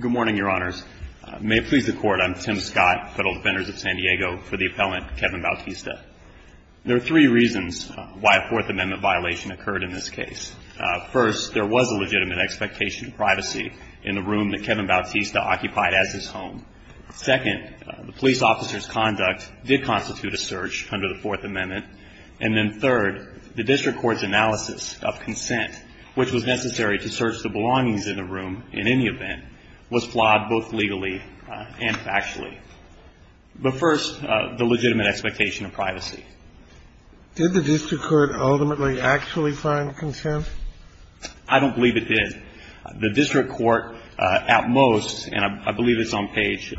Good morning, your honors. May it please the court, I'm Tim Scott, federal defenders of San Diego, for the appellant Kevin Bautista. There are three reasons why a Fourth Amendment violation occurred in this case. First, there was a legitimate expectation of privacy in the room that Kevin Bautista occupied as his home. Second, the police officer's conduct did constitute a search under the Fourth Amendment. And then third, the district court's analysis of consent, which was necessary to search the belongings in the room in any event, was flawed both legally and factually. But first, the legitimate expectation of privacy. Did the district court ultimately actually find consent? I don't believe it did. The district court at most, and I believe it's on page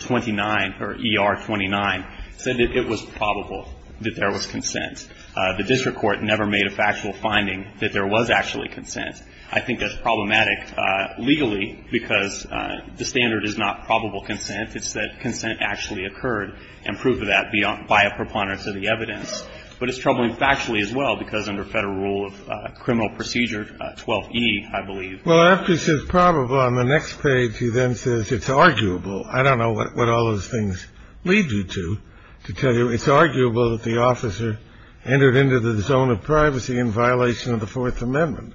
29 or ER 29, said that it was probable that there was consent. The district court never made a factual finding that there was actually consent. I think that's problematic legally because the standard is not probable consent. It's that consent actually occurred and proof of that by a preponderance of the evidence. But it's troubling factually as well because under Federal Rule of Criminal Procedure 12E, I believe. Well, after it says probable, on the next page, he then says it's arguable. I don't know what all those things lead you to, to tell you it's arguable that the officer entered into the zone of privacy in violation of the Fourth Amendment.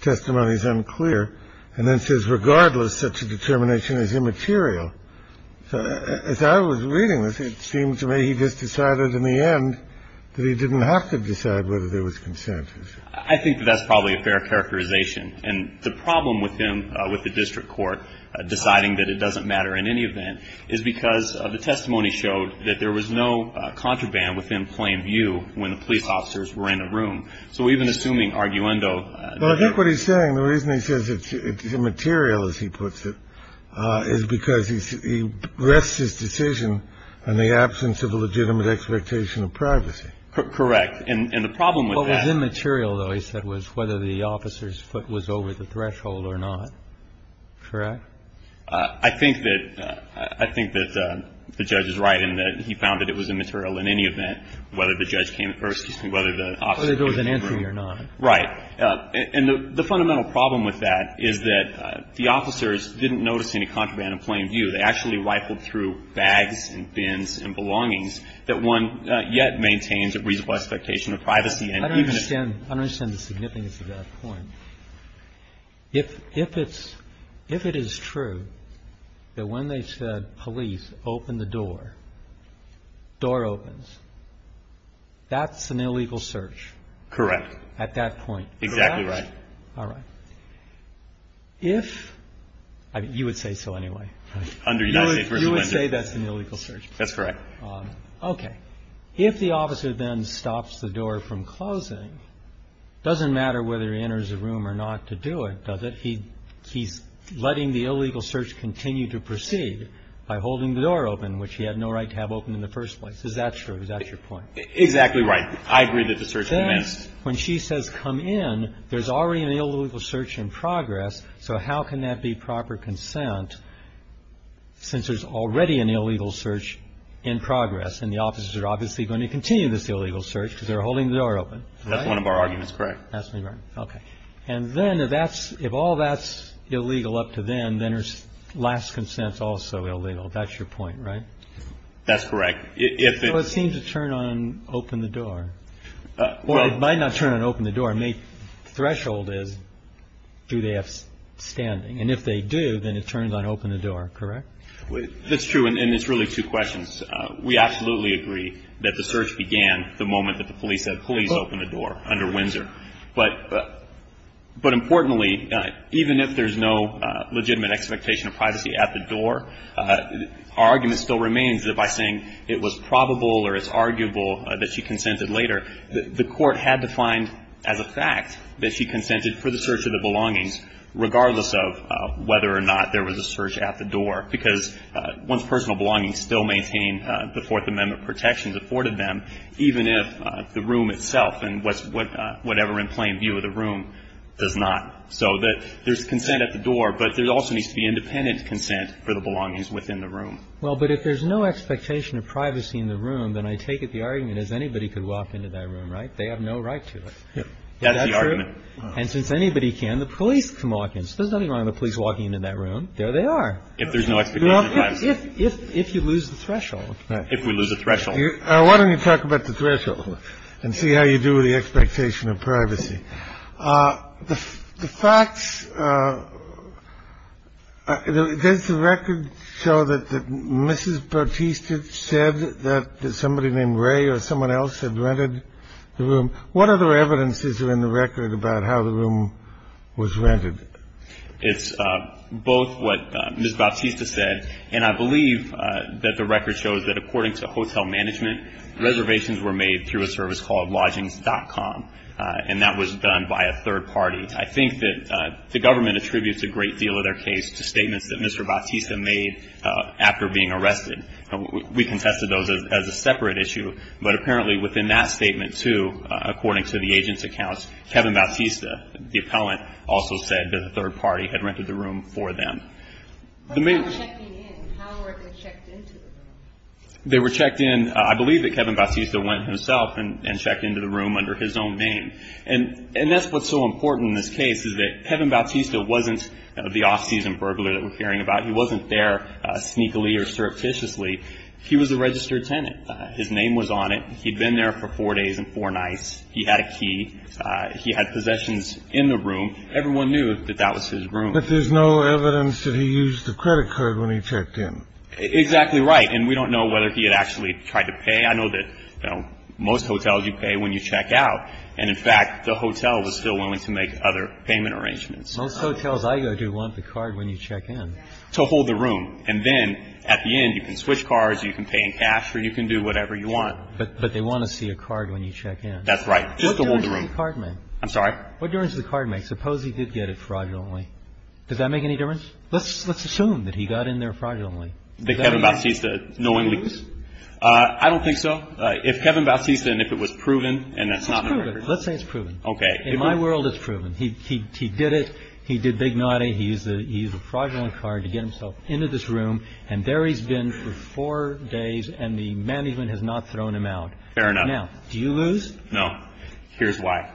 Testimony is unclear. And then it says regardless, such a determination is immaterial. So as I was reading this, it seems to me he just decided in the end that he didn't have to decide whether there was consent. I think that's probably a fair characterization. And the problem with him, with the district court deciding that it doesn't matter in any event, is because the testimony showed that there was no contraband within plain view when the police officers were in a room. So even assuming arguendo. Well, I think what he's saying, the reason he says it's immaterial, as he puts it, is because he rests his decision on the absence of a legitimate expectation of privacy. Correct. And the problem with that. What was immaterial, though, he said, was whether the officer's foot was over the threshold or not. Correct? I think that the judge is right in that he found that it was immaterial in any event, whether the judge came first and whether the officer came first. Whether there was an entry or not. Right. And the fundamental problem with that is that the officers didn't notice any contraband in plain view. They actually rifled through bags and bins and belongings that one yet maintains a reasonable expectation of privacy. I don't understand. I don't understand the significance of that point. If it's – if it is true that when they said police, open the door, door opens, that's an illegal search. Correct. At that point. Exactly right. All right. If – you would say so anyway, right? Under United States v. Lender. You would say that's an illegal search. That's correct. Okay. If the officer then stops the door from closing, it doesn't matter whether he enters a room or not to do it, does it? He's letting the illegal search continue to proceed by holding the door open, which he had no right to have open in the first place. Is that true? Is that your point? Exactly right. I agree that the search commenced. When she says come in, there's already an illegal search in progress. So how can that be proper consent since there's already an illegal search in progress and the officers are obviously going to continue this illegal search because they're holding the door open? That's one of our arguments. Correct. That's correct. Okay. And then if that's – if all that's illegal up to then, then her last consent's also illegal. That's your point, right? That's correct. So it seems to turn on open the door. Or it might not turn on open the door. The threshold is do they have standing. And if they do, then it turns on open the door, correct? That's true. And it's really two questions. We absolutely agree that the search began the moment that the police said please open the door under Windsor. But importantly, even if there's no legitimate expectation of privacy at the door, our argument still remains that by saying it was probable or it's arguable that she consented later, the court had to find as a fact that she consented for the search of the belongings, regardless of whether or not there was a search at the door. Because one's personal belongings still maintain the Fourth Amendment protections afforded them, even if the room itself and whatever in plain view of the room does not. So that there's consent at the door. But there also needs to be independent consent for the belongings within the room. Well, but if there's no expectation of privacy in the room, then I take it the argument is anybody could walk into that room, right? They have no right to it. That's the argument. And since anybody can, the police can walk in. So there's nothing wrong with the police walking into that room. There they are. If there's no expectation of privacy. If you lose the threshold. If we lose the threshold. Why don't we talk about the threshold and see how you do with the expectation of privacy. The facts. Does the record show that Mrs. Bautista said that somebody named Ray or someone else had rented the room? What other evidences are in the record about how the room was rented? It's both what Mrs. Bautista said. And I believe that the record shows that according to hotel management, reservations were made through a service called lodgings dot com. And that was done by a third party. I think that the government attributes a great deal of their case to statements that Mr. Bautista made after being arrested. We contested those as a separate issue. But apparently within that statement, too, according to the agent's accounts, Kevin Bautista, the appellant, also said that the third party had rented the room for them. How were they checked into the room? They were checked in. I believe that Kevin Bautista went himself and checked into the room under his own name. And that's what's so important in this case is that Kevin Bautista wasn't the off-season burglar that we're hearing about. He wasn't there sneakily or surreptitiously. He was a registered tenant. His name was on it. He'd been there for four days and four nights. He had a key. He had possessions in the room. Everyone knew that that was his room. But there's no evidence that he used the credit card when he checked in. Exactly right. And we don't know whether he had actually tried to pay. I know that, you know, most hotels you pay when you check out. And, in fact, the hotel was still willing to make other payment arrangements. Most hotels I go to want the card when you check in. To hold the room. And then at the end, you can switch cards, you can pay in cash, or you can do whatever you want. But they want to see a card when you check in. That's right. Just to hold the room. What difference does the card make? I'm sorry? What difference does the card make? Suppose he did get it fraudulently. Does that make any difference? Let's assume that he got in there fraudulently. The Kevin Bautista knowing lease? I don't think so. If Kevin Bautista, and if it was proven. Let's say it's proven. Okay. In my world, it's proven. He did it. He did big naughty. He used a fraudulent card to get himself into this room. And there he's been for four days. And the management has not thrown him out. Fair enough. Now, do you lose? No. Here's why.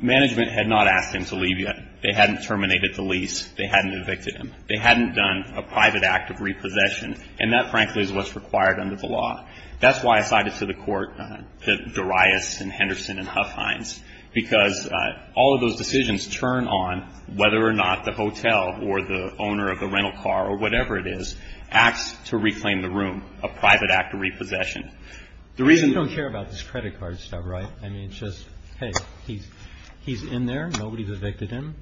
Management had not asked him to leave yet. They hadn't terminated the lease. They hadn't evicted him. They hadn't done a private act of repossession. And that, frankly, is what's required under the law. That's why I cited to the court the Darius and Henderson and Huffhines. Because all of those decisions turn on whether or not the hotel or the owner of the rental car or whatever it is acts to reclaim the room, a private act of repossession. The reason. You don't care about this credit card stuff, right? I mean, it's just, hey, he's in there. Nobody's evicted him.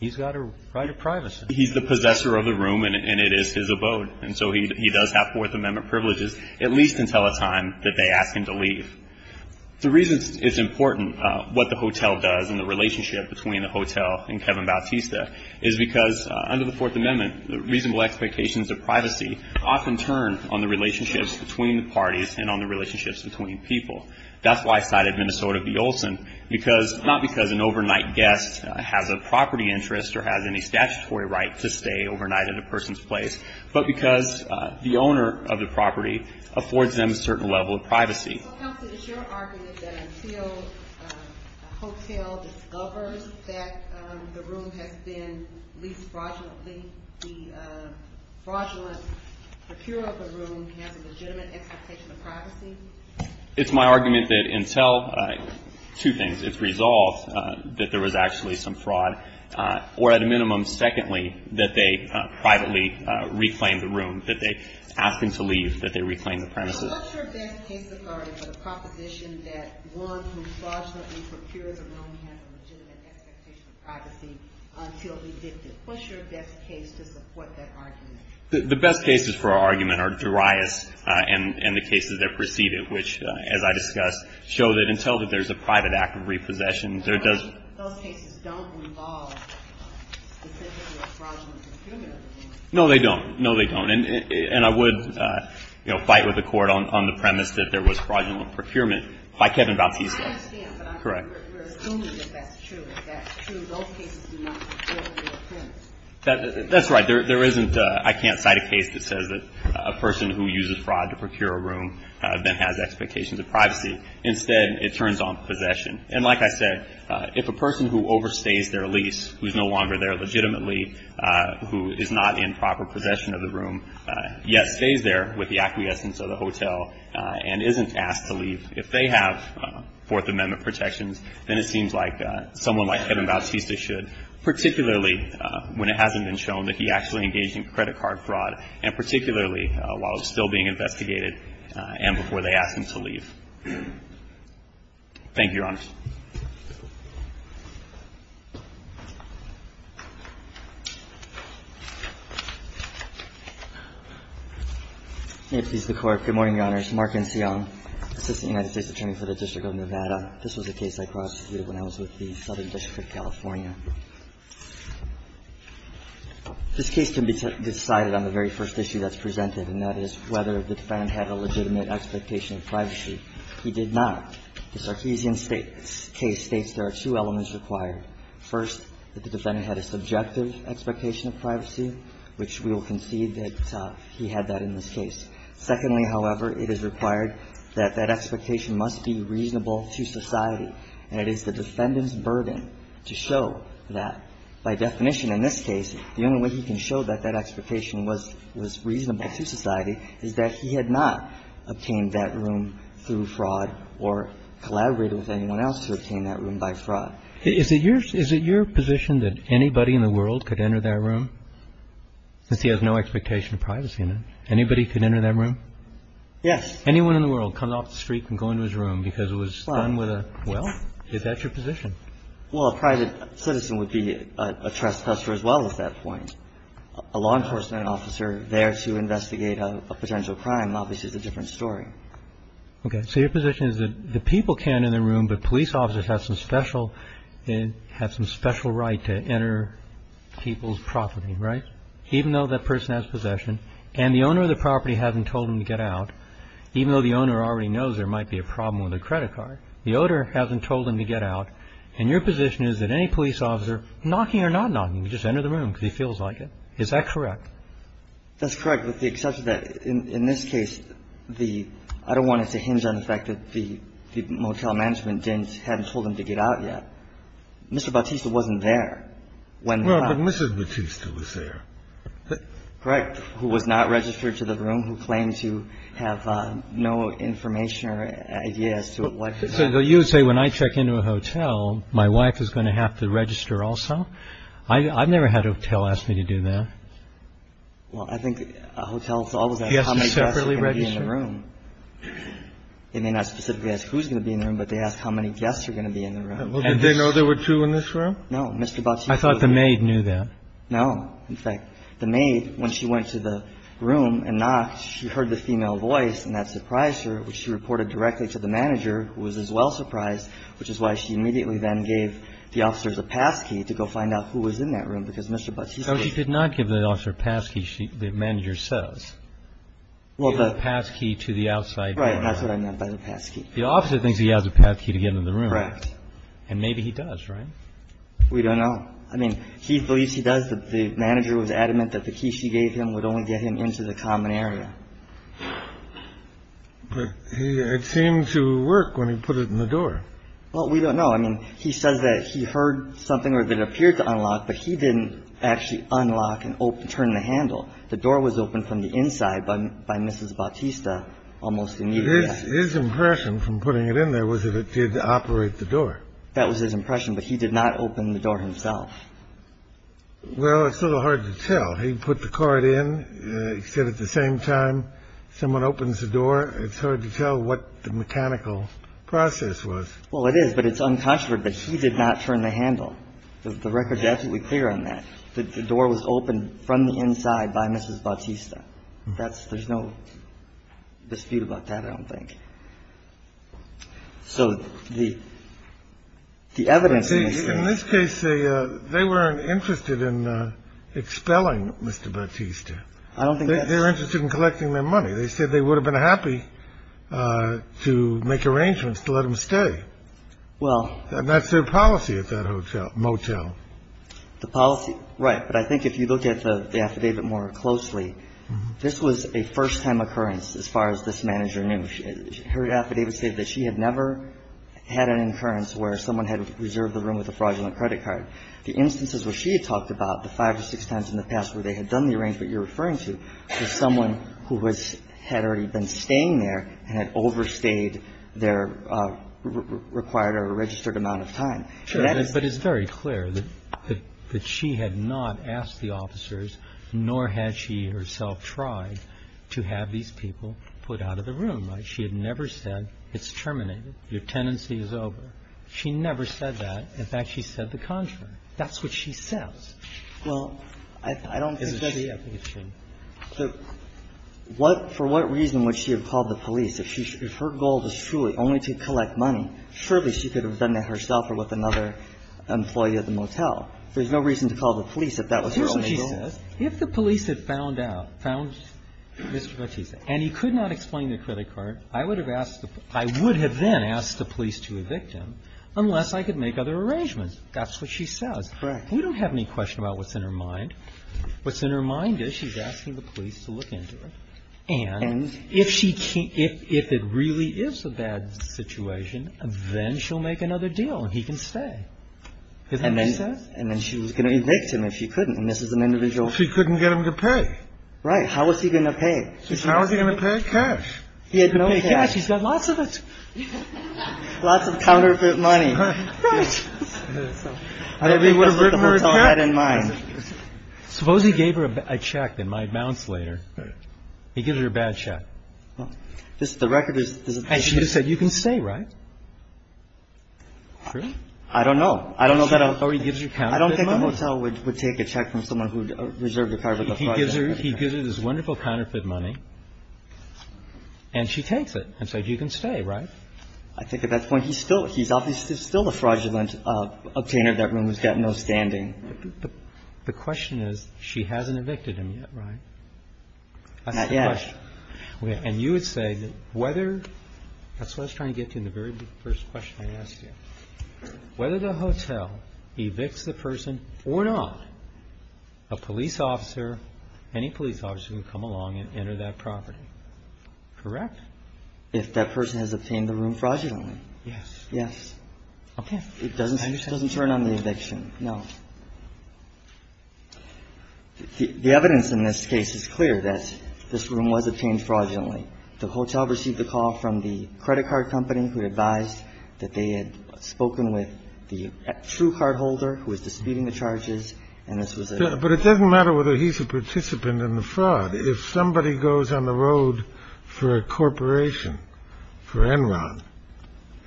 He's got a right of privacy. He's the possessor of the room, and it is his abode. And so he does have Fourth Amendment privileges, at least until a time that they ask him to leave. The reason it's important what the hotel does and the relationship between the hotel and Kevin Bautista is because under the Fourth Amendment, reasonable expectations of privacy often turn on the relationships between the parties and on the relationships between people. That's why I cited Minnesota v. Olson, not because an overnight guest has a property interest or has any statutory right to stay overnight at a person's place, but because the owner of the property affords them a certain level of privacy. Counsel, is your argument that until a hotel discovers that the room has been leased fraudulently, the fraudulent procurer of the room has a legitimate expectation of privacy? It's my argument that until, two things, it's resolved that there was actually some fraud, or at a minimum, secondly, that they privately reclaim the room, that they ask him to leave, that they reclaim the premises. What's your best case authority for the proposition that one who fraudulently procures a room has a legitimate expectation of privacy until evicted? What's your best case to support that argument? The best cases for our argument are Darius and the cases that precede it, which, as I discussed, show that until there's a private act of repossession, there does Those cases don't involve specifically a fraudulent procurement of the room. No, they don't. No, they don't. And I would fight with the Court on the premise that there was fraudulent procurement by Kevin Bautista. I understand. Correct. But we're assuming that that's true. If that's true, those cases do not deal with the offense. That's right. There isn't, I can't cite a case that says that a person who uses fraud to procure a room then has expectations of privacy. Instead, it turns on possession. And like I said, if a person who overstays their lease, who's no longer there legitimately, who is not in proper possession of the room, yet stays there with the acquiescence of the hotel and isn't asked to leave, if they have Fourth Amendment protections, then it seems like someone like Kevin Bautista should, particularly when it hasn't been shown that he actually engaged in credit card fraud, and particularly while still being investigated and before they asked him to leave. Thank you, Your Honors. May it please the Court. Good morning, Your Honors. Mark Nsiong, Assistant United States Attorney for the District of Nevada. This was a case I prosecuted when I was with the Southern District of California. This case can be decided on the very first issue that's presented, and that is whether the defendant had a legitimate expectation of privacy. He did not. The Sarkeesian case states there are two elements required. First, that the defendant had a subjective expectation of privacy, which we will concede that he had that in this case. Secondly, however, it is required that that expectation must be reasonable to society, and it is the defendant's burden to show that. By definition, in this case, the only way he can show that that expectation was reasonable to society is that he had not obtained that room through fraud or collaborated with anyone else to obtain that room by fraud. Is it your position that anybody in the world could enter that room since he has no expectation of privacy in it? Anybody can enter that room? Yes. Anyone in the world can come off the street and go into his room because it was done with a well? Yes. Is that your position? Well, a private citizen would be a trespasser as well at that point. A law enforcement officer there to investigate a potential crime obviously is a different story. Okay. So your position is that the people can in the room, but police officers have some special right to enter people's property, right, even though that person has possession, and the owner of the property hasn't told him to get out, even though the owner already knows there might be a problem with a credit card. The owner hasn't told him to get out. And your position is that any police officer, knocking or not knocking, can just enter the room because he feels like it. Is that correct? That's correct with the exception that in this case, the – I don't want it to hinge on the fact that the motel management didn't – hadn't told him to get out yet. Mr. Bautista wasn't there when the crime – Well, but Mrs. Bautista was there. Correct. And there was a clerk who was not registered to the room who claimed to have no information or idea as to what – So you would say when I check into a hotel, my wife is going to have to register also? I've never had a hotel ask me to do that. Well, I think hotels always ask how many guests are going to be in the room. They ask me separately? They may not specifically ask who's going to be in the room, but they ask how many guests are going to be in the room. And they know there were two in this room? Mr. Bautista was there. They knew that? No. In fact, the maid, when she went to the room and knocked, she heard the female voice, and that surprised her, which she reported directly to the manager, who was as well surprised, which is why she immediately then gave the officers a passkey to go find out who was in that room, because Mr. Bautista – But she did not give the officer a passkey, the manager says. Well, the – She gave a passkey to the outside door. Right. That's what I meant by the passkey. The officer thinks he has a passkey to get into the room. Correct. And maybe he does, right? We don't know. I mean, he believes he does, but the manager was adamant that the key she gave him would only get him into the common area. But he – it seemed to work when he put it in the door. Well, we don't know. I mean, he says that he heard something or that it appeared to unlock, but he didn't actually unlock and open – turn the handle. The door was open from the inside by Mrs. Bautista almost immediately after. His impression from putting it in there was that it did operate the door. That was his impression, but he did not open the door himself. Well, it's a little hard to tell. He put the card in. He said at the same time someone opens the door, it's hard to tell what the mechanical process was. Well, it is, but it's unconscionable that he did not turn the handle. The record is absolutely clear on that. The door was open from the inside by Mrs. Bautista. That's – there's no dispute about that, I don't think. So the evidence in this case – In this case, they weren't interested in expelling Mr. Bautista. I don't think that's – They were interested in collecting their money. They said they would have been happy to make arrangements to let him stay. Well – And that's their policy at that hotel – motel. The policy – right. But I think if you look at the affidavit more closely, this was a first-time occurrence, as far as this manager knew. Her affidavit stated that she had never had an occurrence where someone had reserved the room with a fraudulent credit card. The instances where she had talked about, the five or six times in the past where they had done the arrangement you're referring to, was someone who was – had already been staying there and had overstayed their required or registered amount of time. That is – But it's very clear that she had not asked the officers, nor had she herself tried, to have these people put out of the room, right? She had never said, it's terminated. Your tenancy is over. She never said that. In fact, she said the contrary. That's what she says. Well, I don't think that she – For what reason would she have called the police? If her goal was truly only to collect money, surely she could have done that herself or with another employee at the motel. There's no reason to call the police if that was her only goal. Well, here's what she says. If the police had found out, found Mr. Battista, and he could not explain the credit card, I would have asked – I would have then asked the police to evict him unless I could make other arrangements. That's what she says. Correct. We don't have any question about what's in her mind. What's in her mind is she's asking the police to look into it. And if she – if it really is a bad situation, then she'll make another deal and he can Isn't that what she says? And then she was going to evict him if she couldn't. And this is an individual – She couldn't get him to pay. Right. How was he going to pay? How was he going to pay? Cash. He had to pay cash. He's got lots of it. Lots of counterfeit money. Right. I don't think that's what the motel had in mind. Suppose he gave her a check that might bounce later. He gives her a bad check. The record is – And she just said, you can say, right? I don't know. Or he gives her counterfeit money. I don't think the motel would take a check from someone who reserved a car for the fraud. He gives her this wonderful counterfeit money. And she takes it and says, you can stay, right? I think at that point he's still – he's obviously still a fraudulent obtainer. That room has got no standing. The question is she hasn't evicted him yet, right? Not yet. And you would say that whether – that's what I was trying to get to in the very first question I asked you. Whether the motel evicts the person or not, a police officer, any police officer can come along and enter that property. Correct? If that person has obtained the room fraudulently. Yes. Yes. Okay. It doesn't turn on the eviction. No. The evidence in this case is clear that this room was obtained fraudulently. The motel received a call from the credit card company who advised that they had spoken with the true cardholder who was disputing the charges. And this was a – But it doesn't matter whether he's a participant in the fraud. If somebody goes on the road for a corporation, for Enron,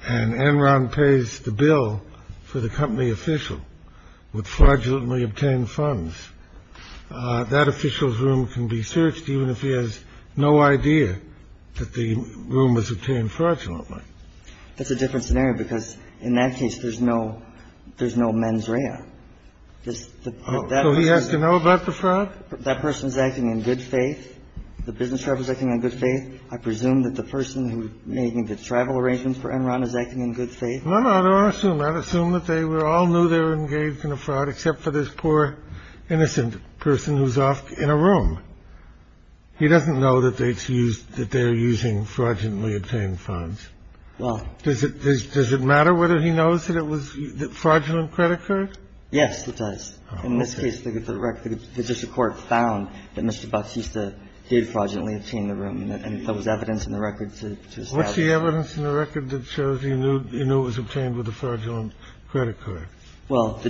and Enron pays the bill for the company official with fraudulently obtained funds, that official's room can be searched even if he has no idea that the room was obtained fraudulently. That's a different scenario because in that case, there's no – there's no mens rea. So he has to know about the fraud? That person's acting in good faith. The business driver's acting in good faith. I presume that the person who made the travel arrangements for Enron is acting in good faith. No, no. I don't assume that. I don't assume that they were – all knew they were engaged in a fraud except for this poor innocent person who's off in a room. He doesn't know that they used – that they're using fraudulently obtained funds. Well – Does it – does it matter whether he knows that it was fraudulent credit card? Yes, it does. In this case, the court found that Mr. Bucksista did fraudulently obtain the room. And there was evidence in the record to establish that. What was the evidence in the record that shows you knew it was obtained with a fraudulent credit card? Well,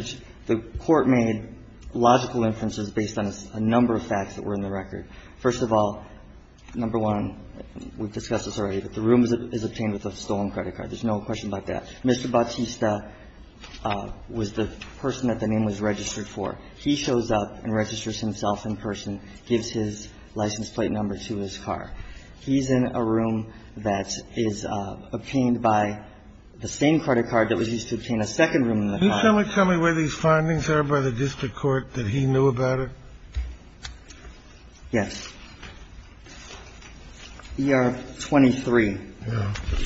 the court made logical inferences based on a number of facts that were in the record. First of all, number one, we've discussed this already, that the room is obtained with a stolen credit card. There's no question about that. Mr. Bucksista was the person that the name was registered for. He shows up and registers himself in person, gives his license plate number to his car. He's in a room that is obtained by the same credit card that was used to obtain a second room in the car. Can you tell me where these findings are by the district court that he knew about it? Yes. ER 23,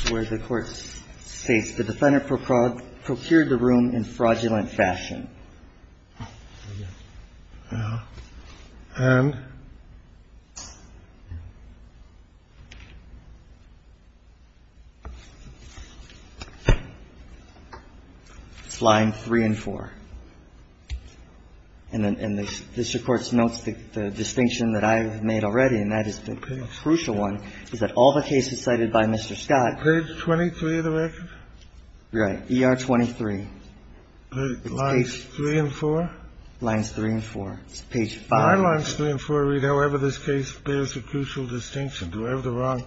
where the court states the defendant procured the room in fraudulent fashion. And it's line three and four. And this, of course, notes the distinction that I have made already, and that is the crucial one, is that all the cases cited by Mr. Scott. Page 23 of the record? Right. ER 23. Lines three and four? Lines three and four. It's page five. My lines three and four read, however, this case bears a crucial distinction. Do I have the wrong?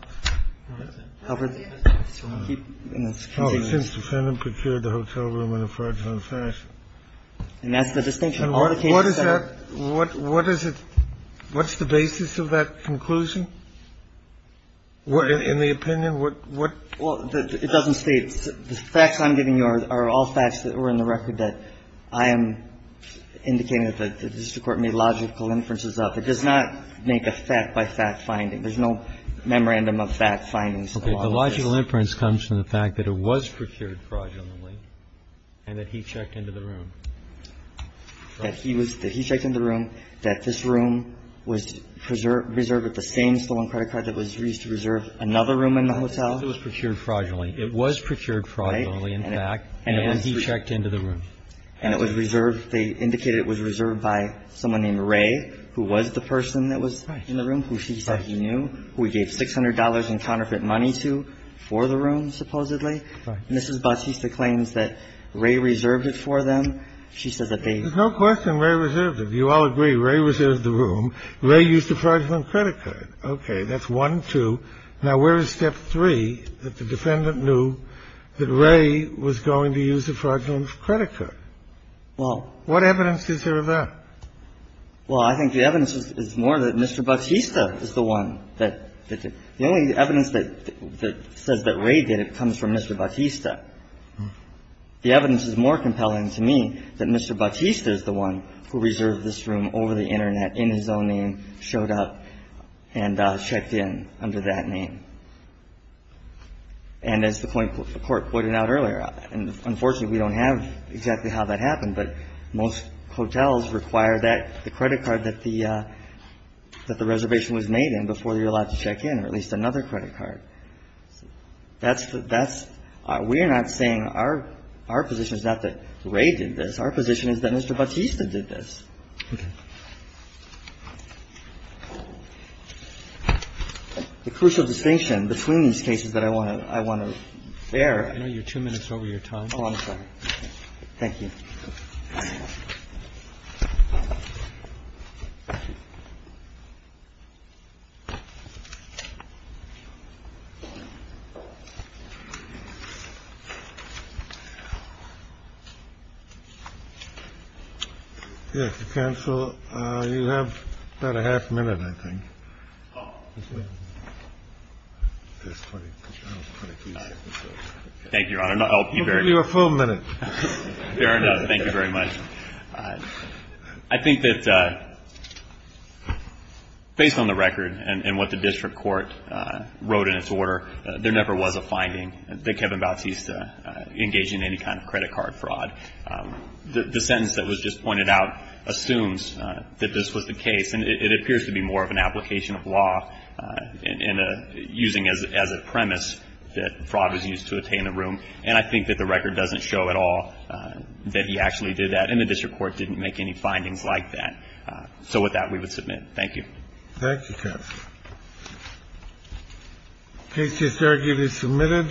Since the defendant procured the hotel room in a fraudulent fashion. And that's the distinction. What is that? What is it? What's the basis of that conclusion? In the opinion, what? Well, it doesn't state. The facts I'm giving you are all facts that were in the record that I am indicating that the district court made logical inferences of. It does not make a fact-by-fact finding. There's no memorandum of fact findings. Okay. The logical inference comes from the fact that it was procured fraudulently and that he checked into the room. That he was – that he checked into the room, that this room was preserved with the same stolen credit card that was used to reserve another room in the hotel. It was procured fraudulently. It was procured fraudulently, in fact. Right. And he checked into the room. And it was reserved. They indicated it was reserved by someone named Ray, who was the person that was in the room, who she said he knew, who he gave $600 in counterfeit money to for the room, supposedly. Right. Mrs. Batista claims that Ray reserved it for them. She says that they – There's no question Ray reserved it. You all agree. Ray reserved the room. Ray used a fraudulent credit card. Okay. That's one, two. Now, where is step three, that the defendant knew that Ray was going to use a fraudulent credit card? Well – What evidence is there of that? Well, I think the evidence is more that Mr. Batista is the one that did it. The only evidence that says that Ray did it comes from Mr. Batista. The evidence is more compelling to me that Mr. Batista is the one who reserved this room over the Internet, in his own name, showed up and checked in under that name. And as the court pointed out earlier, unfortunately, we don't have exactly how that happened, but most hotels require that the credit card that the reservation was made in before you're allowed to check in, or at least another credit card. That's the – that's – we're not saying our – our position is not that Ray did this. Our position is that Mr. Batista did this. Okay. The crucial distinction between these cases that I want to – I want to bear – I know you're two minutes over your time. Oh, I'm sorry. Thank you. Yes, counsel. You have about a half minute, I think. Thank you, Your Honor. I'll give you a full minute. Fair enough. Thank you very much. I think that based on the record and what the district court wrote in its order, there never was a finding that Kevin Batista engaged in any kind of credit card fraud. The sentence that was just pointed out assumes that this was the case. And it appears to be more of an application of law and using as a premise that fraud was used to obtain the room. And I think that the record doesn't show at all that he actually did that and the district court didn't make any findings like that. So with that, we would submit. Thank you. Thank you, counsel. The case is arguably submitted.